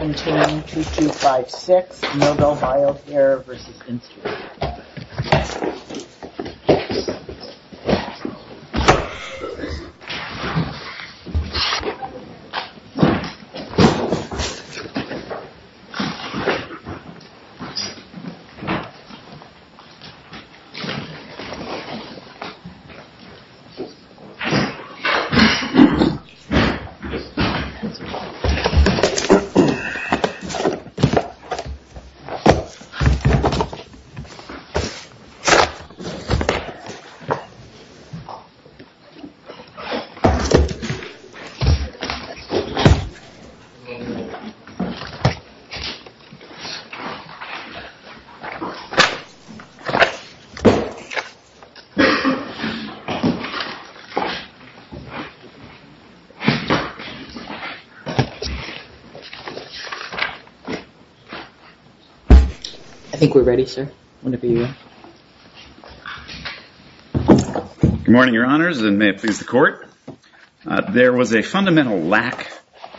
2256 Nobel Biocare v. Instradent USA, Inc. Good morning, your honors, and may it please the court. There was a fundamental lack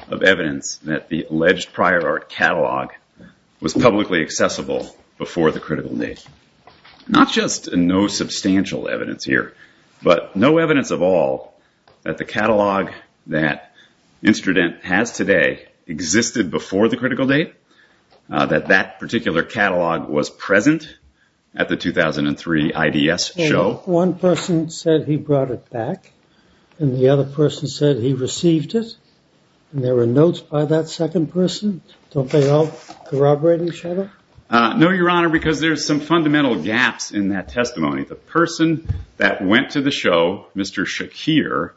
of evidence that the alleged prior art catalog was publicly accessible before the critical date. Not just no substantial evidence here, but no evidence of all that the catalog that that particular catalog was present at the 2003 IDS show. One person said he brought it back, and the other person said he received it, and there were notes by that second person. Don't they all corroborate each other? No, your honor, because there's some fundamental gaps in that testimony. The person that went back to the show, Mr. Shakir,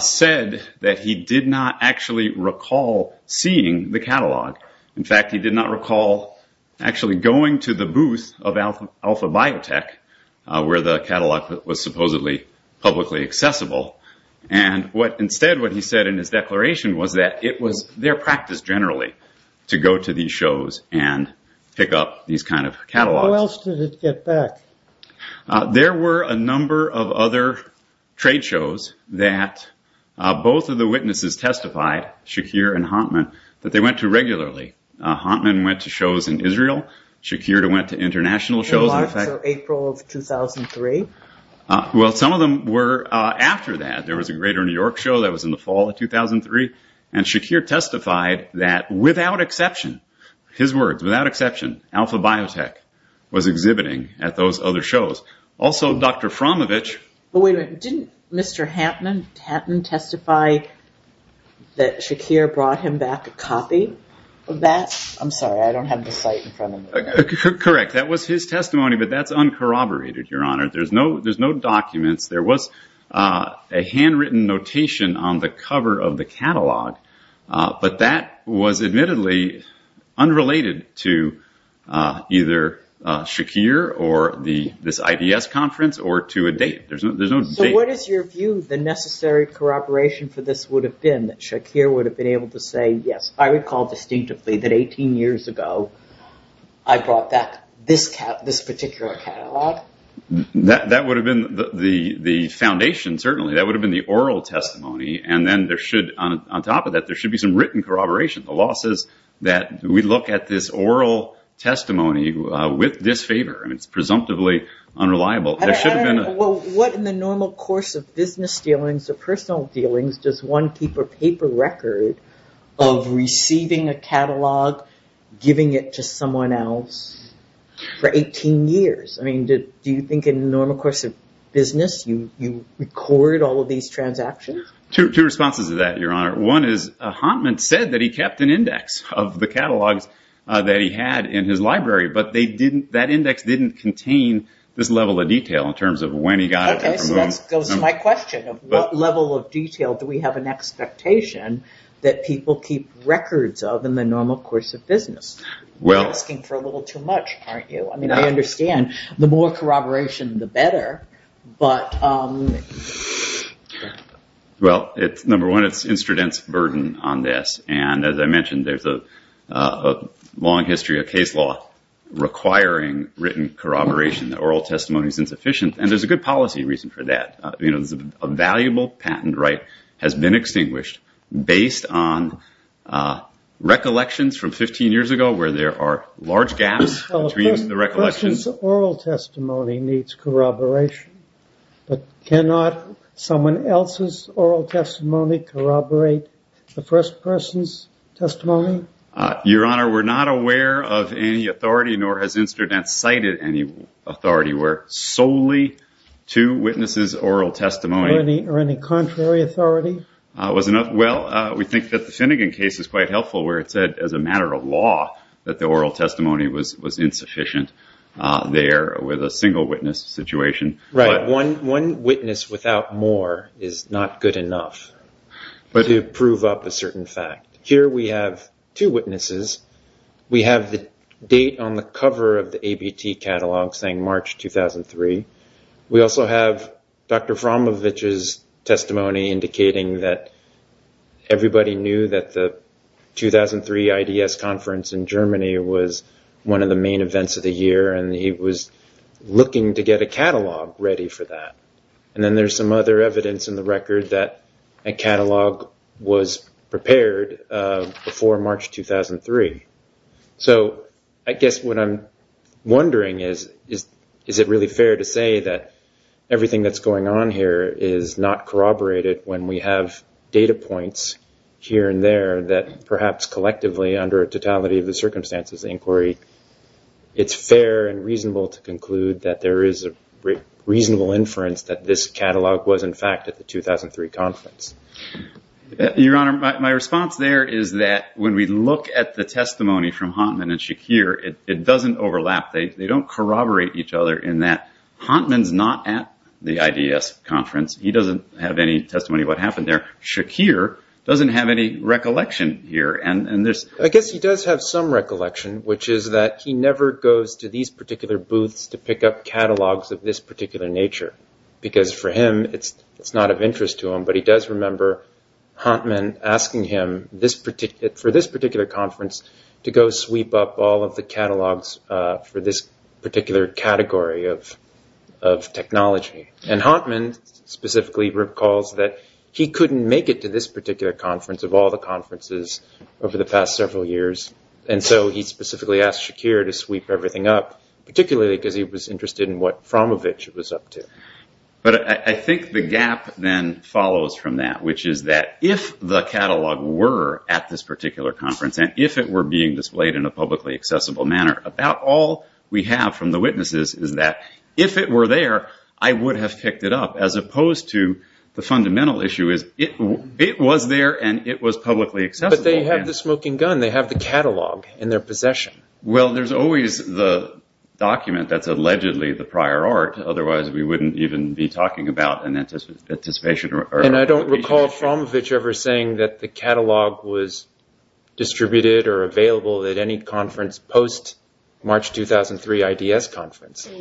said that he did not actually recall seeing the catalog. In fact, he did not recall actually going to the booth of Alpha Biotech, where the catalog was supposedly publicly accessible. Instead, what he said in his declaration was that it was their practice generally to go to these shows and pick up these kind of catalogs. How else did it get back? There were a number of other trade shows that both of the witnesses testified, Shakir and Hantman, that they went to regularly. Hantman went to shows in Israel, Shakir went to international shows. In March or April of 2003? Well, some of them were after that. There was a Greater New York show that was in the fall of 2003, and Shakir testified that without exception, his words, without exception, Alpha Biotech was exhibiting at those other shows. Also, Dr. Framovich- Wait a minute. Didn't Mr. Hantman testify that Shakir brought him back a copy of that? I'm sorry, I don't have the site in front of me. Correct. That was his testimony, but that's uncorroborated, your honor. There's no documents. There was a handwritten notation on the cover of the catalog, but that was admittedly unrelated to either Shakir or this IDS conference or to a date. There's no date. What is your view, the necessary corroboration for this would have been that Shakir would have been able to say, yes, I recall distinctively that 18 years ago, I brought back this particular catalog? That would have been the foundation, certainly. That would have been the oral testimony. Then there should, on top of that, there should be some written corroboration. The law says that we look at this oral testimony with disfavor. It's presumptively unreliable. There should have been a- What in the normal course of business dealings or personal dealings does one keep a paper record of receiving a catalog, giving it to someone else for 18 years? Do you think in the normal course of business, you record all of these transactions? Two responses to that, your honor. One is, Hantman said that he kept an index of the catalogs that he had in his library, but that index didn't contain this level of detail in terms of when he got it. Okay, so that goes to my question of what level of detail do we have an expectation that people keep records of in the normal course of business? You're asking for a little too much, aren't you? I mean, I understand the more corroboration, the better, but- Well, number one, it's instrudent's burden on this. As I mentioned, there's a long history of case law requiring written corroboration. The oral testimony is insufficient. There's a good policy reason for that. A valuable patent right has been extinguished based on recollections from 15 years ago where there are large gaps between the recollections- A person's oral testimony needs corroboration, but cannot someone else's oral testimony corroborate the first person's testimony? Your Honor, we're not aware of any authority, nor has instrudent cited any authority where solely two witnesses' oral testimony- Or any contrary authority? Well, we think that the Finnegan case is quite helpful where it said as a matter of law that the oral testimony was insufficient there with a single witness situation. Right. One witness without more is not good enough to prove up a certain fact. Here we have two witnesses. We have the date on the cover of the ABT catalog saying March 2003. We also have Dr. Frommovich's testimony indicating that everybody knew that the 2003 IDS conference in Germany was one of the main events of the year and he was looking to get a catalog ready for that. Then there's some other evidence in the record that a catalog was prepared before March 2003. I guess what I'm wondering is, is it really fair to say that everything that's going on here is not corroborated when we have data points here and there that perhaps collectively under totality of the circumstances inquiry, it's fair and reasonable to conclude that there is a reasonable inference that this catalog was in fact at the 2003 conference? Your Honor, my response there is that when we look at the testimony from Hantman and Shakir, it doesn't overlap. They don't corroborate each other in that Hantman's not at the IDS conference. He doesn't have any testimony of what happened there. Shakir doesn't have any recollection here. I guess he does have some recollection, which is that he never goes to these particular booths to pick up catalogs of this particular nature. Because for him, it's not of interest to him, but he does remember Hantman asking him for this particular conference to go sweep up all of the catalogs for this particular category of technology. Hantman specifically recalls that he couldn't make it to this particular conference of all the conferences over the past several years. He specifically asked Shakir to sweep everything up, particularly because he was interested in what Framovich was up to. I think the gap then follows from that, which is that if the catalog were at this particular conference and if it were being displayed in a publicly accessible manner, about all we have from the witnesses is that if it were there, I would have picked it up, as opposed to the fundamental issue is it was there and it was publicly accessible. But they have the smoking gun. They have the catalog in their possession. Well, there's always the document that's allegedly the prior art. Otherwise, we wouldn't even be talking about an anticipation. And I don't recall Framovich ever saying that the catalog was distributed or available at any conference post-March 2003 IDS conference. Is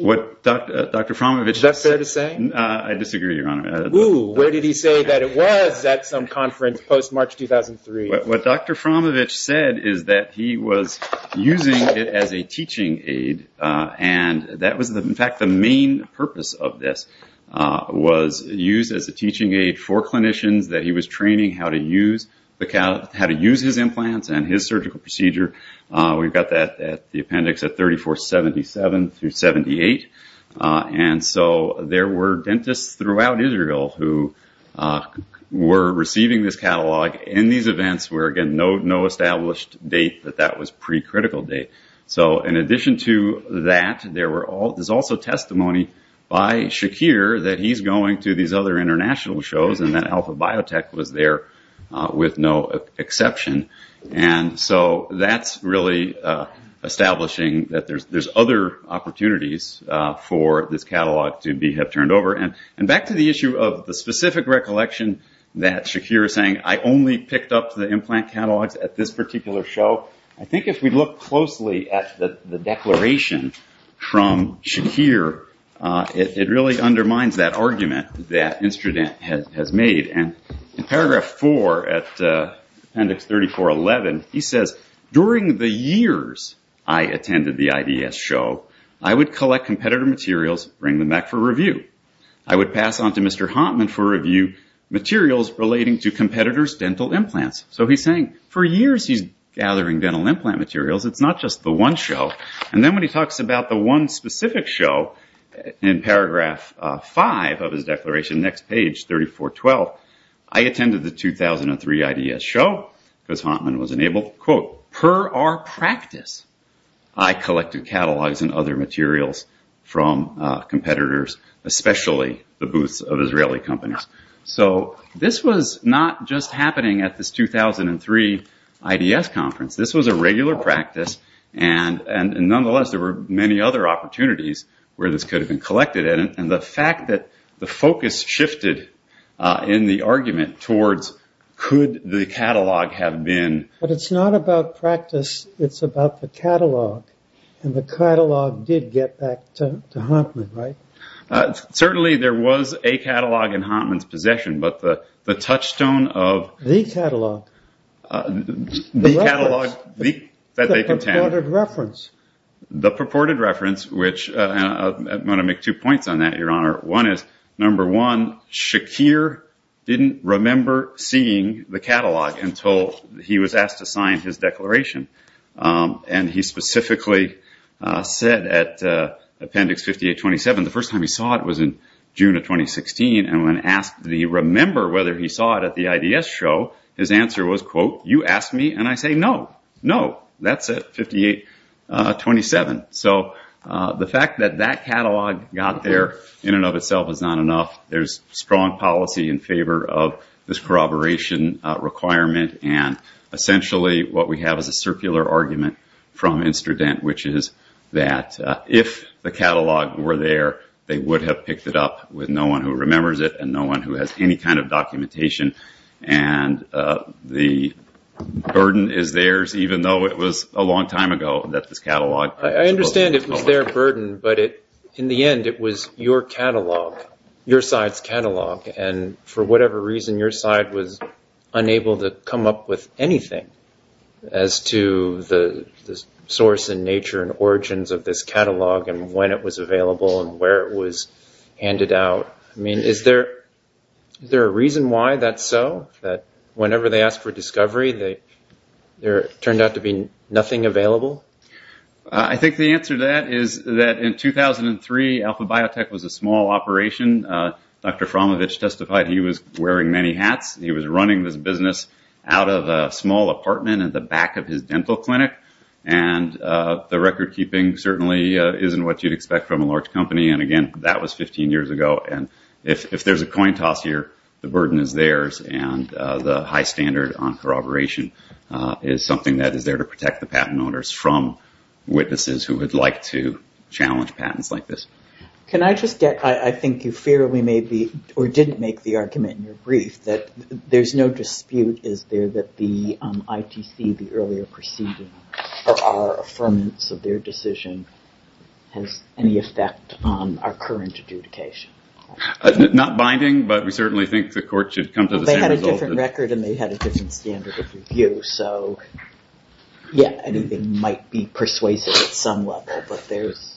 that fair to say? I disagree, Your Honor. Where did he say that it was at some conference post-March 2003? What Dr. Framovich said is that he was using it as a teaching aid, and that was in fact the main purpose of this. It was used as a teaching aid for clinicians that he was training how to use his implants and his surgical procedure. We've got that at the appendix at 3477-78. And so there were dentists throughout Israel who were receiving this catalog in these events where, again, no established date that that was pre-critical date. So in addition to that, there's also testimony by Shakir that he's going to these other So that's really establishing that there's other opportunities for this catalog to have turned over. And back to the issue of the specific recollection that Shakir is saying, I only picked up the implant catalogs at this particular show. I think if we look closely at the declaration from Shakir, it really undermines that argument that during the years I attended the IDS show, I would collect competitor materials, bring them back for review. I would pass on to Mr. Hantman for review materials relating to competitors' dental implants. So he's saying for years he's gathering dental implant materials. It's not just the one show. And then when he talks about the one specific show in paragraph 5 of his declaration, next page 3412, I attended the 2003 IDS show, because Hantman was unable, quote, per our practice, I collected catalogs and other materials from competitors, especially the booths of Israeli companies. So this was not just happening at this 2003 IDS conference. This was a regular practice. And nonetheless, there were many other opportunities where this could have been collected. And the fact that the focus shifted in the argument towards could the catalog have been... But it's not about practice. It's about the catalog. And the catalog did get back to Hantman, right? Certainly there was a catalog in Hantman's possession, but the touchstone of... The catalog... The purported reference. I'm going to make two points on that, Your Honor. One is, number one, Shakir didn't remember seeing the catalog until he was asked to sign his declaration. And he specifically said at appendix 5827, the first time he saw it was in Hantman's possession. He said, did you ask me? And I say, no. No. That's it. 5827. So the fact that that catalog got there in and of itself is not enough. There's strong policy in favor of this corroboration requirement, and essentially what we have is a circular argument from Instredent, which is that if the catalog were there, they would have picked it up with no one who remembers it and no one who has any kind of documentation. And the burden is theirs, even though it was a long time ago that this catalog... I understand it was their burden, but in the end it was your catalog, your side's catalog. And for whatever reason, your side was unable to come up with anything as to the I mean, is there a reason why that's so? That whenever they ask for discovery, there turned out to be nothing available? I think the answer to that is that in 2003, Alpha Biotech was a small operation. Dr. Framovich testified he was wearing many hats. He was running this business out of a small apartment at the back of his dental clinic. And the record keeping certainly isn't what you'd expect from a large organization as it was 20 years ago. And if there's a coin toss here, the burden is theirs, and the high standard on corroboration is something that is there to protect the patent owners from witnesses who would like to challenge patents like this. Can I just get, I think you fairly made the, or didn't make the argument in your brief, that there's no dispute, is there, that the ITC, the earlier proceeding, or our affirmance of their decision has any effect on our current adjudication? Not binding, but we certainly think the court should come to the same result. They had a different record, and they had a different standard of review. So yeah, anything might be persuasive at some level, but there's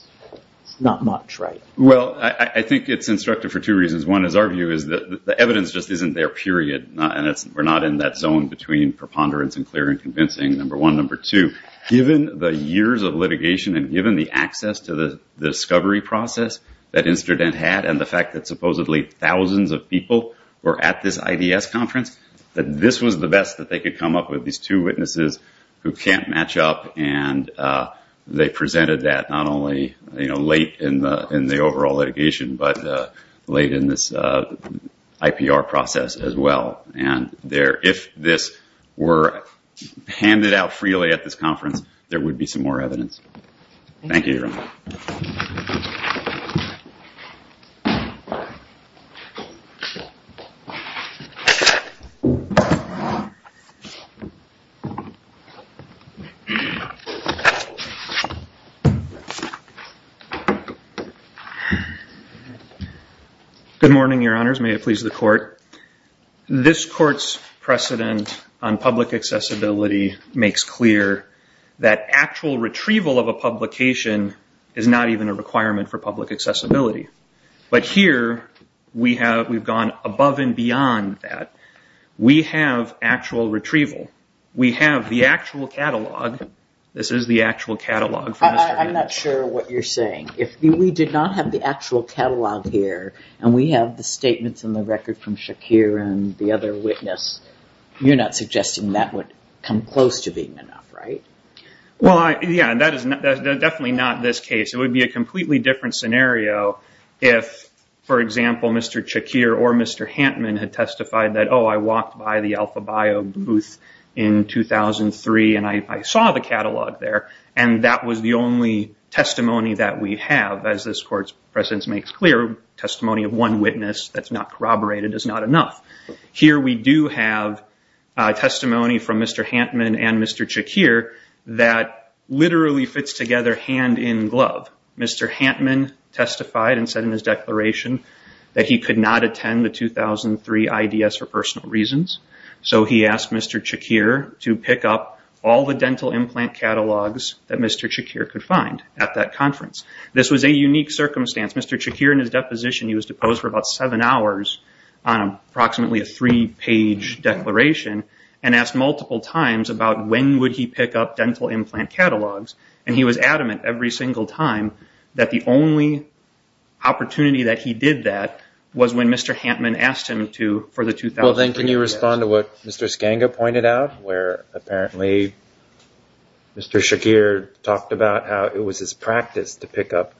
not much, right? Well, I think it's instructive for two reasons. One is our view is that the evidence just isn't there, period. And we're not in that zone between preponderance and clear and convincing, number one. Number two, given the years of litigation and given the access to the discovery process that Incident had and the fact that supposedly thousands of people were at this IDS conference, that this was the best that they could come up with, these two witnesses who can't match up, and they presented that not only late in the overall litigation, but late in this IPR process as well. And if this were handed out freely at this conference, there would be some more evidence. Good morning, Your Honors. May it please the court. This court's precedent on public accessibility makes clear that actual retrieval of a publication is not even a requirement for public accessibility. But here, we've gone above and beyond that. We have actual retrieval. We have the actual catalog. This is the actual catalog. I'm not sure what you're saying. If we did not have the actual catalog here, and we have the statements in the record from Shakir and the other witness, you're not suggesting that would come close to being enough, right? Yeah, that is definitely not this case. It would be a completely different scenario if, for example, Mr. Shakir or Mr. Hantman had testified that, oh, I walked by the Alpha Bio booth in 2003 and I saw the catalog there, and that was the only testimony that we have. As this court's precedent makes clear, testimony of one witness that's not corroborated is not enough. Here we do have testimony from Mr. Hantman and Mr. Shakir that literally fits together hand in glove. Mr. Hantman testified and said in his declaration that he could not attend the 2003 IDS for personal reasons. So he asked Mr. Shakir to pick up all the dental implant catalogs that Mr. Shakir could find at that conference. This was a unique circumstance. Mr. Shakir, in his deposition, he was deposed for about seven hours on approximately a three-page declaration and asked multiple times about when would he pick up dental implant catalogs, and he was adamant every single time that the only opportunity that he did that was when Mr. Hantman asked him to for the 2003 IDS. Well, then can you respond to what Mr. Skanga pointed out, where apparently Mr. Shakir talked about how it was his practice to pick up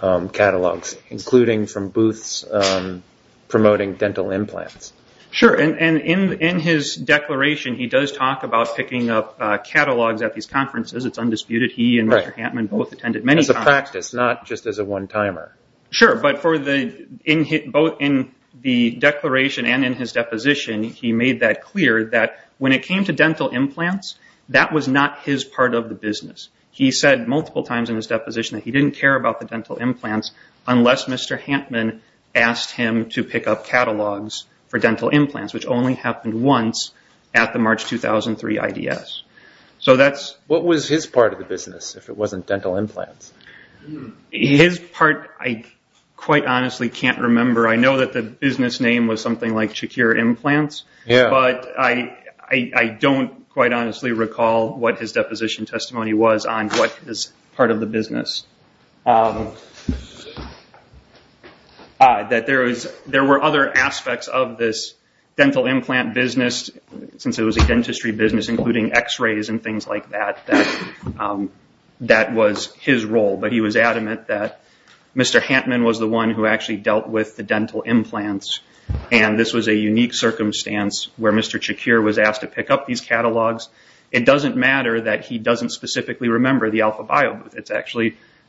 catalogs, including from booths promoting dental implants. Sure, and in his declaration, he does talk about picking up catalogs at these conferences. It's undisputed. He and Mr. Hantman both attended many conferences. As a practice, not just as a one-timer. Sure, but both in the declaration and in his deposition, he made that clear that when it came to dental implants, that was not his part of the business. He said multiple times in his deposition that he didn't care about the dental implants unless Mr. Hantman asked him to pick up catalogs for dental implants, which only happened once at the March 2003 IDS. What was his part of the business if it wasn't dental implants? His part, I quite honestly can't remember. I know that the business name was something like Shakir Implants, but I don't quite honestly recall what his deposition testimony was on what was part of the business. There were other aspects of this dental implant business, since it was a dentistry business, including x-rays and things like that, that was his role. He was adamant that Mr. Hantman was the one who actually dealt with the dental implants. This was a unique circumstance where Mr. Shakir was asked to pick up these catalogs. It doesn't matter that he doesn't specifically remember the Alpha Bio booth.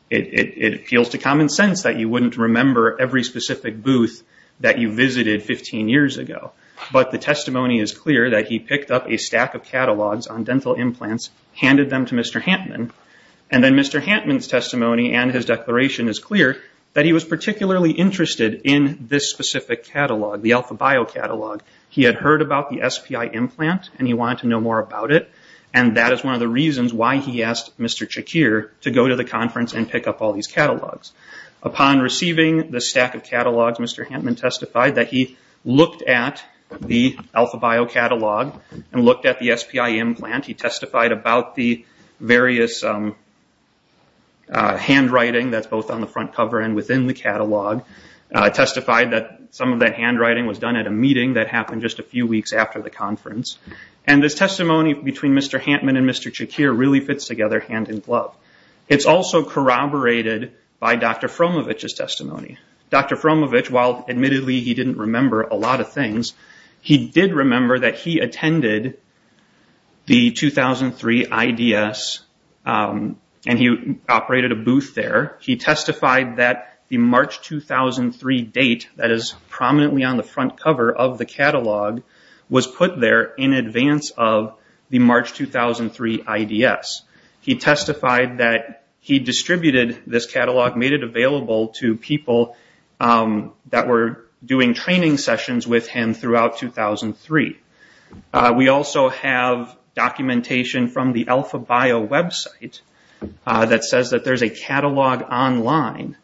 It appeals to common sense that you wouldn't remember every specific booth that you visited 15 years ago. But the testimony is clear that he picked up a stack of catalogs on dental implants, handed them to Mr. Hantman, and then Mr. Hantman's testimony and his declaration is clear that he was particularly interested in this specific catalog, the Alpha Bio catalog. He had heard about the SPI implant and he wanted to know more about it, and that is one of the reasons why he asked Mr. Shakir to go to the conference and pick up all these catalogs. Upon receiving the stack of catalogs, Mr. Hantman testified that he looked at the Alpha Bio catalog and looked at the SPI implant. He testified about the various handwriting that's both on the front cover and within the catalog. He testified that some of that handwriting was done at a meeting that happened just a few weeks after the conference. This testimony between Mr. Hantman and Mr. Shakir really fits together hand in glove. It's also corroborated by Dr. Fromovitch's testimony. Dr. Fromovitch, while admittedly he didn't remember a lot of things, he did remember that he attended the 2003 IDS and he operated a booth there. He testified that the March 2003 date that is prominently on the front cover of the catalog was put there in advance of the March 2003 IDS. He testified that he distributed this catalog, made it available to people that were doing training sessions with him throughout 2003. We also have documentation from the Alpha Bio website that says that there's a catalog online.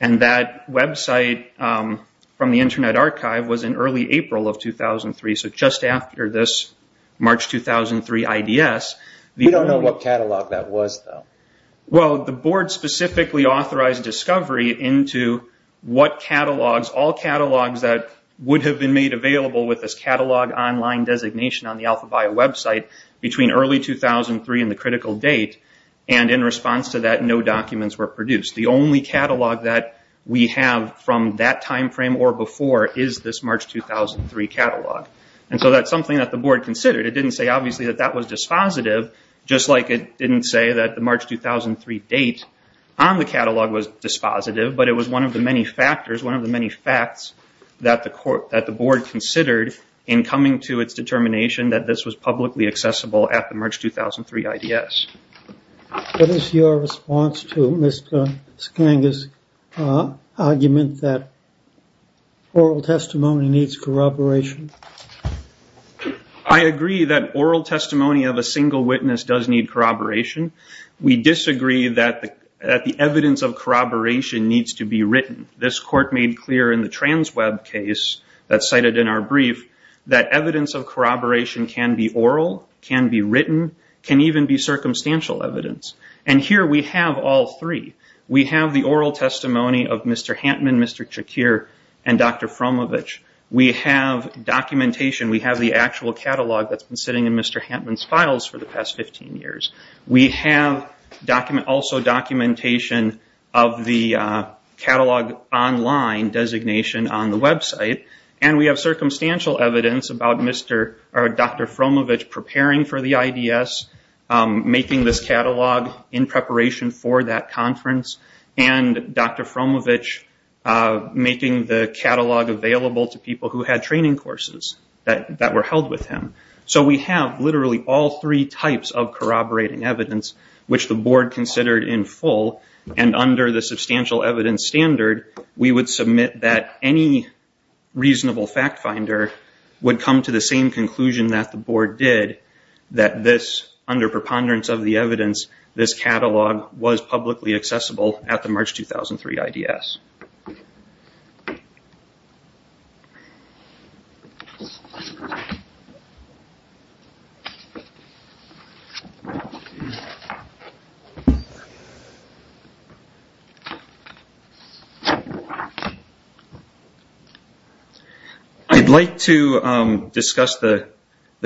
That website from the Internet Archive was in early April of 2003, so just after this March 2003 IDS. We don't know what catalog that was, though. The board specifically authorized discovery into all catalogs that would have been made available with this catalog online designation on the Alpha Bio website between early 2003 and the critical date. In response to that, no documents were produced. The only catalog that we have from that time frame or before is this March 2003 catalog. That's something that the board considered. It didn't say, obviously, that that was dispositive, just like it didn't say that the March 2003 date on the catalog was dispositive, but it was one of the many factors, one of the many facts that the board considered in coming to its determination that this was publicly accessible at the March 2003 IDS. What is your response to Mr. Skanga's argument that oral testimony needs corroboration? I agree that oral testimony of a single witness does need corroboration. We disagree that the evidence of corroboration needs to be written. This court made clear in the trans web case that's cited in our brief that evidence of corroboration can be oral, can be written, can even be circumstantial evidence. And here we have all three. We have the oral testimony of Mr. Hantman, Mr. Chakir, and Dr. Frumovich. We have documentation. We have the actual catalog that's been sitting in Mr. Hantman's files for the past 15 years. We have also documentation of the catalog online designation on the website, and we have circumstantial evidence about Dr. Frumovich preparing for the IDS, making this catalog in preparation for that conference, and Dr. Frumovich making the catalog available to people who had training courses that were held with him. So we have literally all three types of corroborating evidence, which the board considered in full, and under the substantial evidence standard, we would submit that any reasonable fact finder would come to the same conclusion that the board did, that this, under preponderance of the evidence, this catalog was publicly accessible at the March 2003 IDS. I'd like to discuss the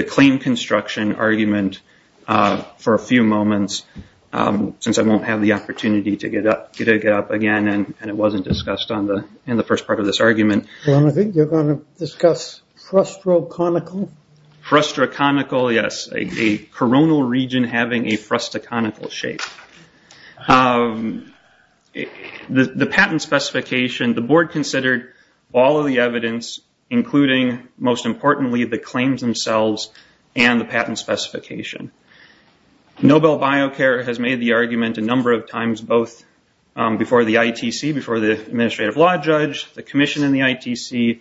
claim construction argument for a few moments, since I won't have the opportunity to get up again, and it wasn't discussed in the first part of this argument. I think you're going to discuss frustroconical? Frustroconical, yes, a coronal region having a frustroconical shape. The patent specification, the board considered all of the evidence, including, most importantly, the claims themselves and the patent specification. Nobel BioCare has made the argument a number of times, both before the ITC, before the administrative law judge, the commission in the ITC,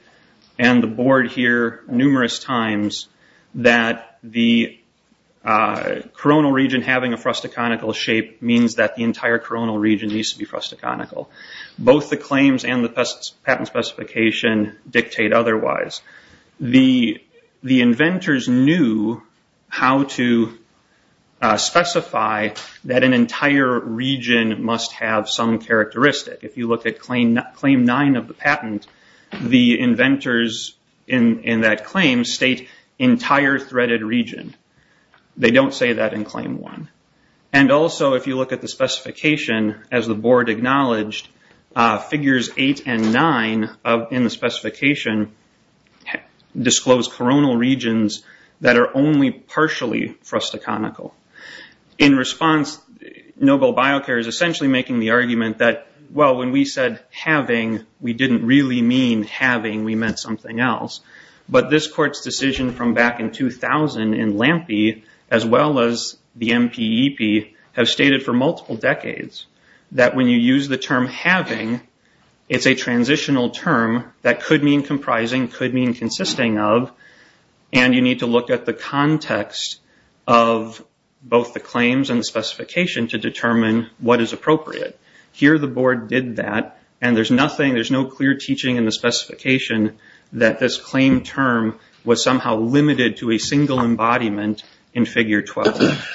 and the board here numerous times, that the coronal region having a frustroconical shape means that the entire coronal region needs to be frustroconical. Both the claims and the patent specification dictate otherwise. The inventors knew how to specify that an entire region must have some characteristic. If you look at claim nine of the patent, the inventors in that claim state entire threaded region. They don't say that in claim one. Also, if you look at the specification, as the board acknowledged, figures eight and nine in the specification disclose coronal regions that are only partially frustroconical. In response, Nobel BioCare is essentially making the argument that, well, when we said having, we didn't really mean having. We meant something else. But this court's decision from back in 2000 in LAMPE, as well as the MPEP, have stated for multiple decades that when you use the term having, it's a transitional term that could mean comprising, could mean consisting of, and you need to look at the context of both the claims and the specification to determine what is appropriate. Here the board did that, and there's nothing, there's no clear teaching in the specification that this claim term was somehow limited to a single embodiment in figure 12.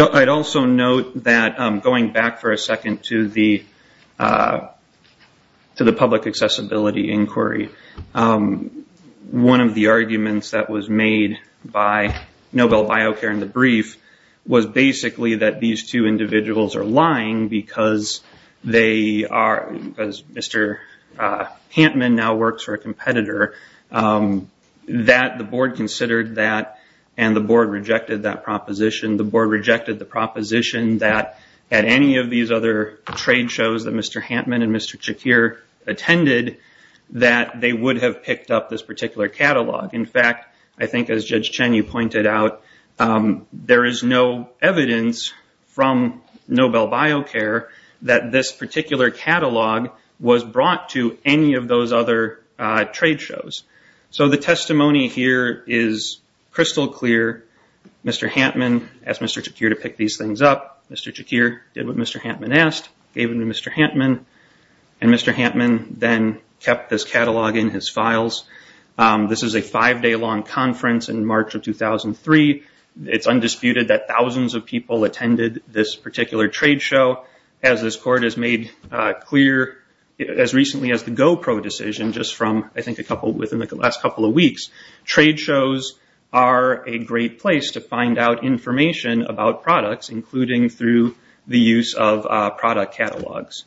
I'd also note that going back for a second to the public accessibility inquiry, one of the arguments that was made by Nobel BioCare in the brief was basically that these two individuals are lying because they are, because Mr. Hantman now works for a competitor, that the board considered that, and the board rejected that proposition. The board rejected the proposition that at any of these other trade shows that Mr. Hantman and Mr. Chakir attended, that they would have picked up this particular catalog. In fact, I think as Judge Chen, you pointed out, there is no evidence from Nobel BioCare that this particular catalog was brought to any of those other trade shows. So the testimony here is crystal clear. Mr. Hantman asked Mr. Chakir to pick these things up. Mr. Chakir did what Mr. Hantman asked, gave them to Mr. Hantman, and Mr. Hantman then kept this catalog in his files. This is a five-day-long conference in March of 2003. It's undisputed that thousands of people attended this particular trade show. As this court has made clear as recently as the GoPro decision just from, I think, within the last couple of weeks, trade shows are a great place to find out information about products, including through the use of product catalogs.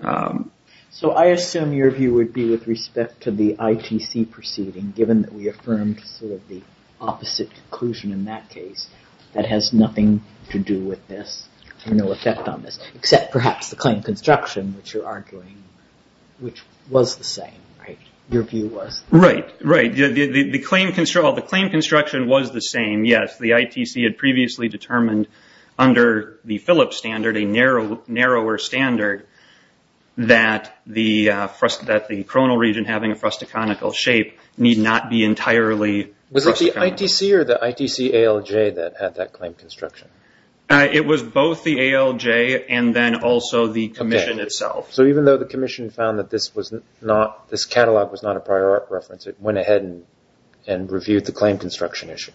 So I assume your view would be with respect to the ITC proceeding, given that we affirmed sort of the opposite conclusion in that case, that has nothing to do with this and no effect on this, except perhaps the claim construction, which you're arguing, which was the same, right? Your view was. Right, right. The claim construction was the same, yes. The ITC had previously determined under the Phillips standard, a narrower standard, that the coronal region having a frustaconical shape need not be entirely frustaconical. Was it the ITC or the ITC-ALJ that had that claim construction? It was both the ALJ and then also the commission itself. So even though the commission found that this catalog was not a prior art reference, it went ahead and reviewed the claim construction issue?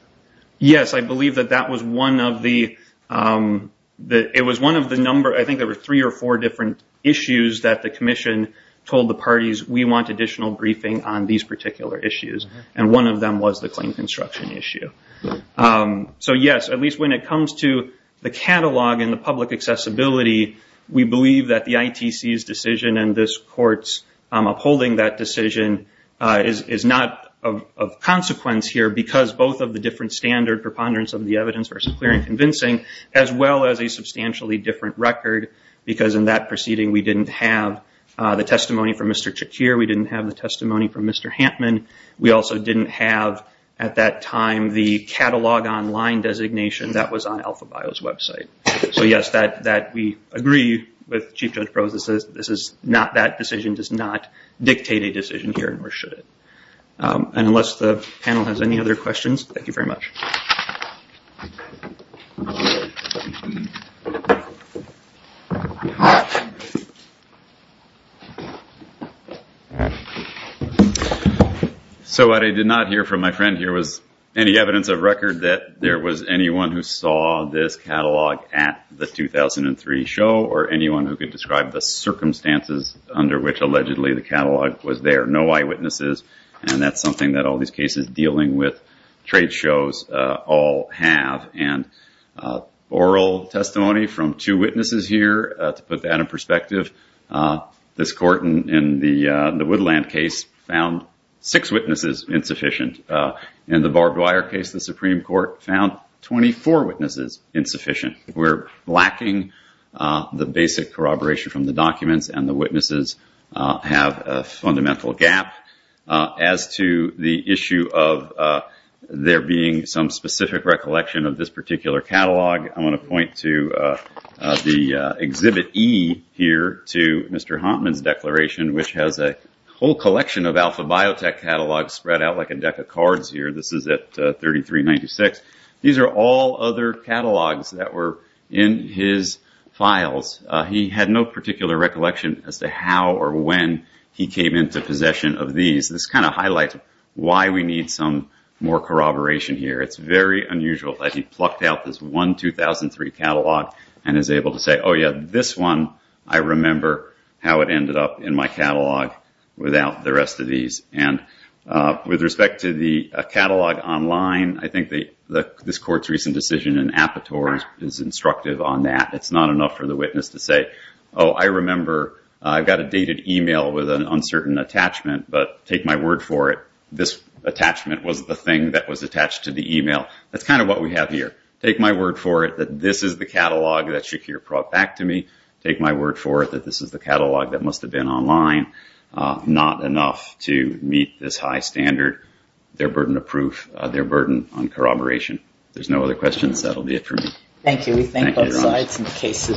Yes, I believe that that was one of the, it was one of the number, I think there were three or four different issues that the commission told the parties, we want additional briefing on these particular issues, and one of them was the claim construction issue. So yes, at least when it comes to the catalog and the public accessibility, we believe that the ITC's decision and this court's upholding that decision is not of consequence here, because both of the different standard preponderance of the evidence versus clear and convincing, as well as a substantially different record, because in that proceeding we didn't have the testimony from Mr. Chakir, we didn't have the testimony from Mr. Hantman, we also didn't have at that time the catalog online designation that was on Alpha Bio's website. So yes, that we agree with Chief Judge Prose, this is not, that decision does not dictate a decision here, nor should it. And unless the panel has any other questions, thank you very much. So what I did not hear from my friend here was any evidence of record that there was anyone who saw this catalog at the 2003 show, or anyone who could describe the circumstances under which allegedly the catalog was there. There are no eyewitnesses, and that's something that all these cases dealing with trade shows all have. And oral testimony from two witnesses here, to put that in perspective, this court in the Woodland case found six witnesses insufficient. In the Barb Dwyer case, the Supreme Court found 24 witnesses insufficient. We're lacking the basic corroboration from the documents, and the witnesses have a fundamental gap. As to the issue of there being some specific recollection of this particular catalog, I want to point to the Exhibit E here to Mr. Hantman's declaration, which has a whole collection of Alpha Biotech catalogs spread out like a deck of cards here. This is at 3396. These are all other catalogs that were in his files. He had no particular recollection as to how or when he came into possession of these. This kind of highlights why we need some more corroboration here. It's very unusual that he plucked out this one 2003 catalog and is able to say, oh yeah, this one, I remember how it ended up in my catalog without the rest of these. With respect to the catalog online, I think this court's recent decision in Apatow is instructive on that. It's not enough for the witness to say, oh, I remember I got a dated email with an uncertain attachment, but take my word for it, this attachment was the thing that was attached to the email. That's kind of what we have here. Take my word for it that this is the catalog that Shakir brought back to me. Take my word for it that this is the catalog that must have been online. Not enough to meet this high standard. They're burden of proof. They're burden on corroboration. If there's no other questions, that'll be it for me. Thank you. We thank both sides.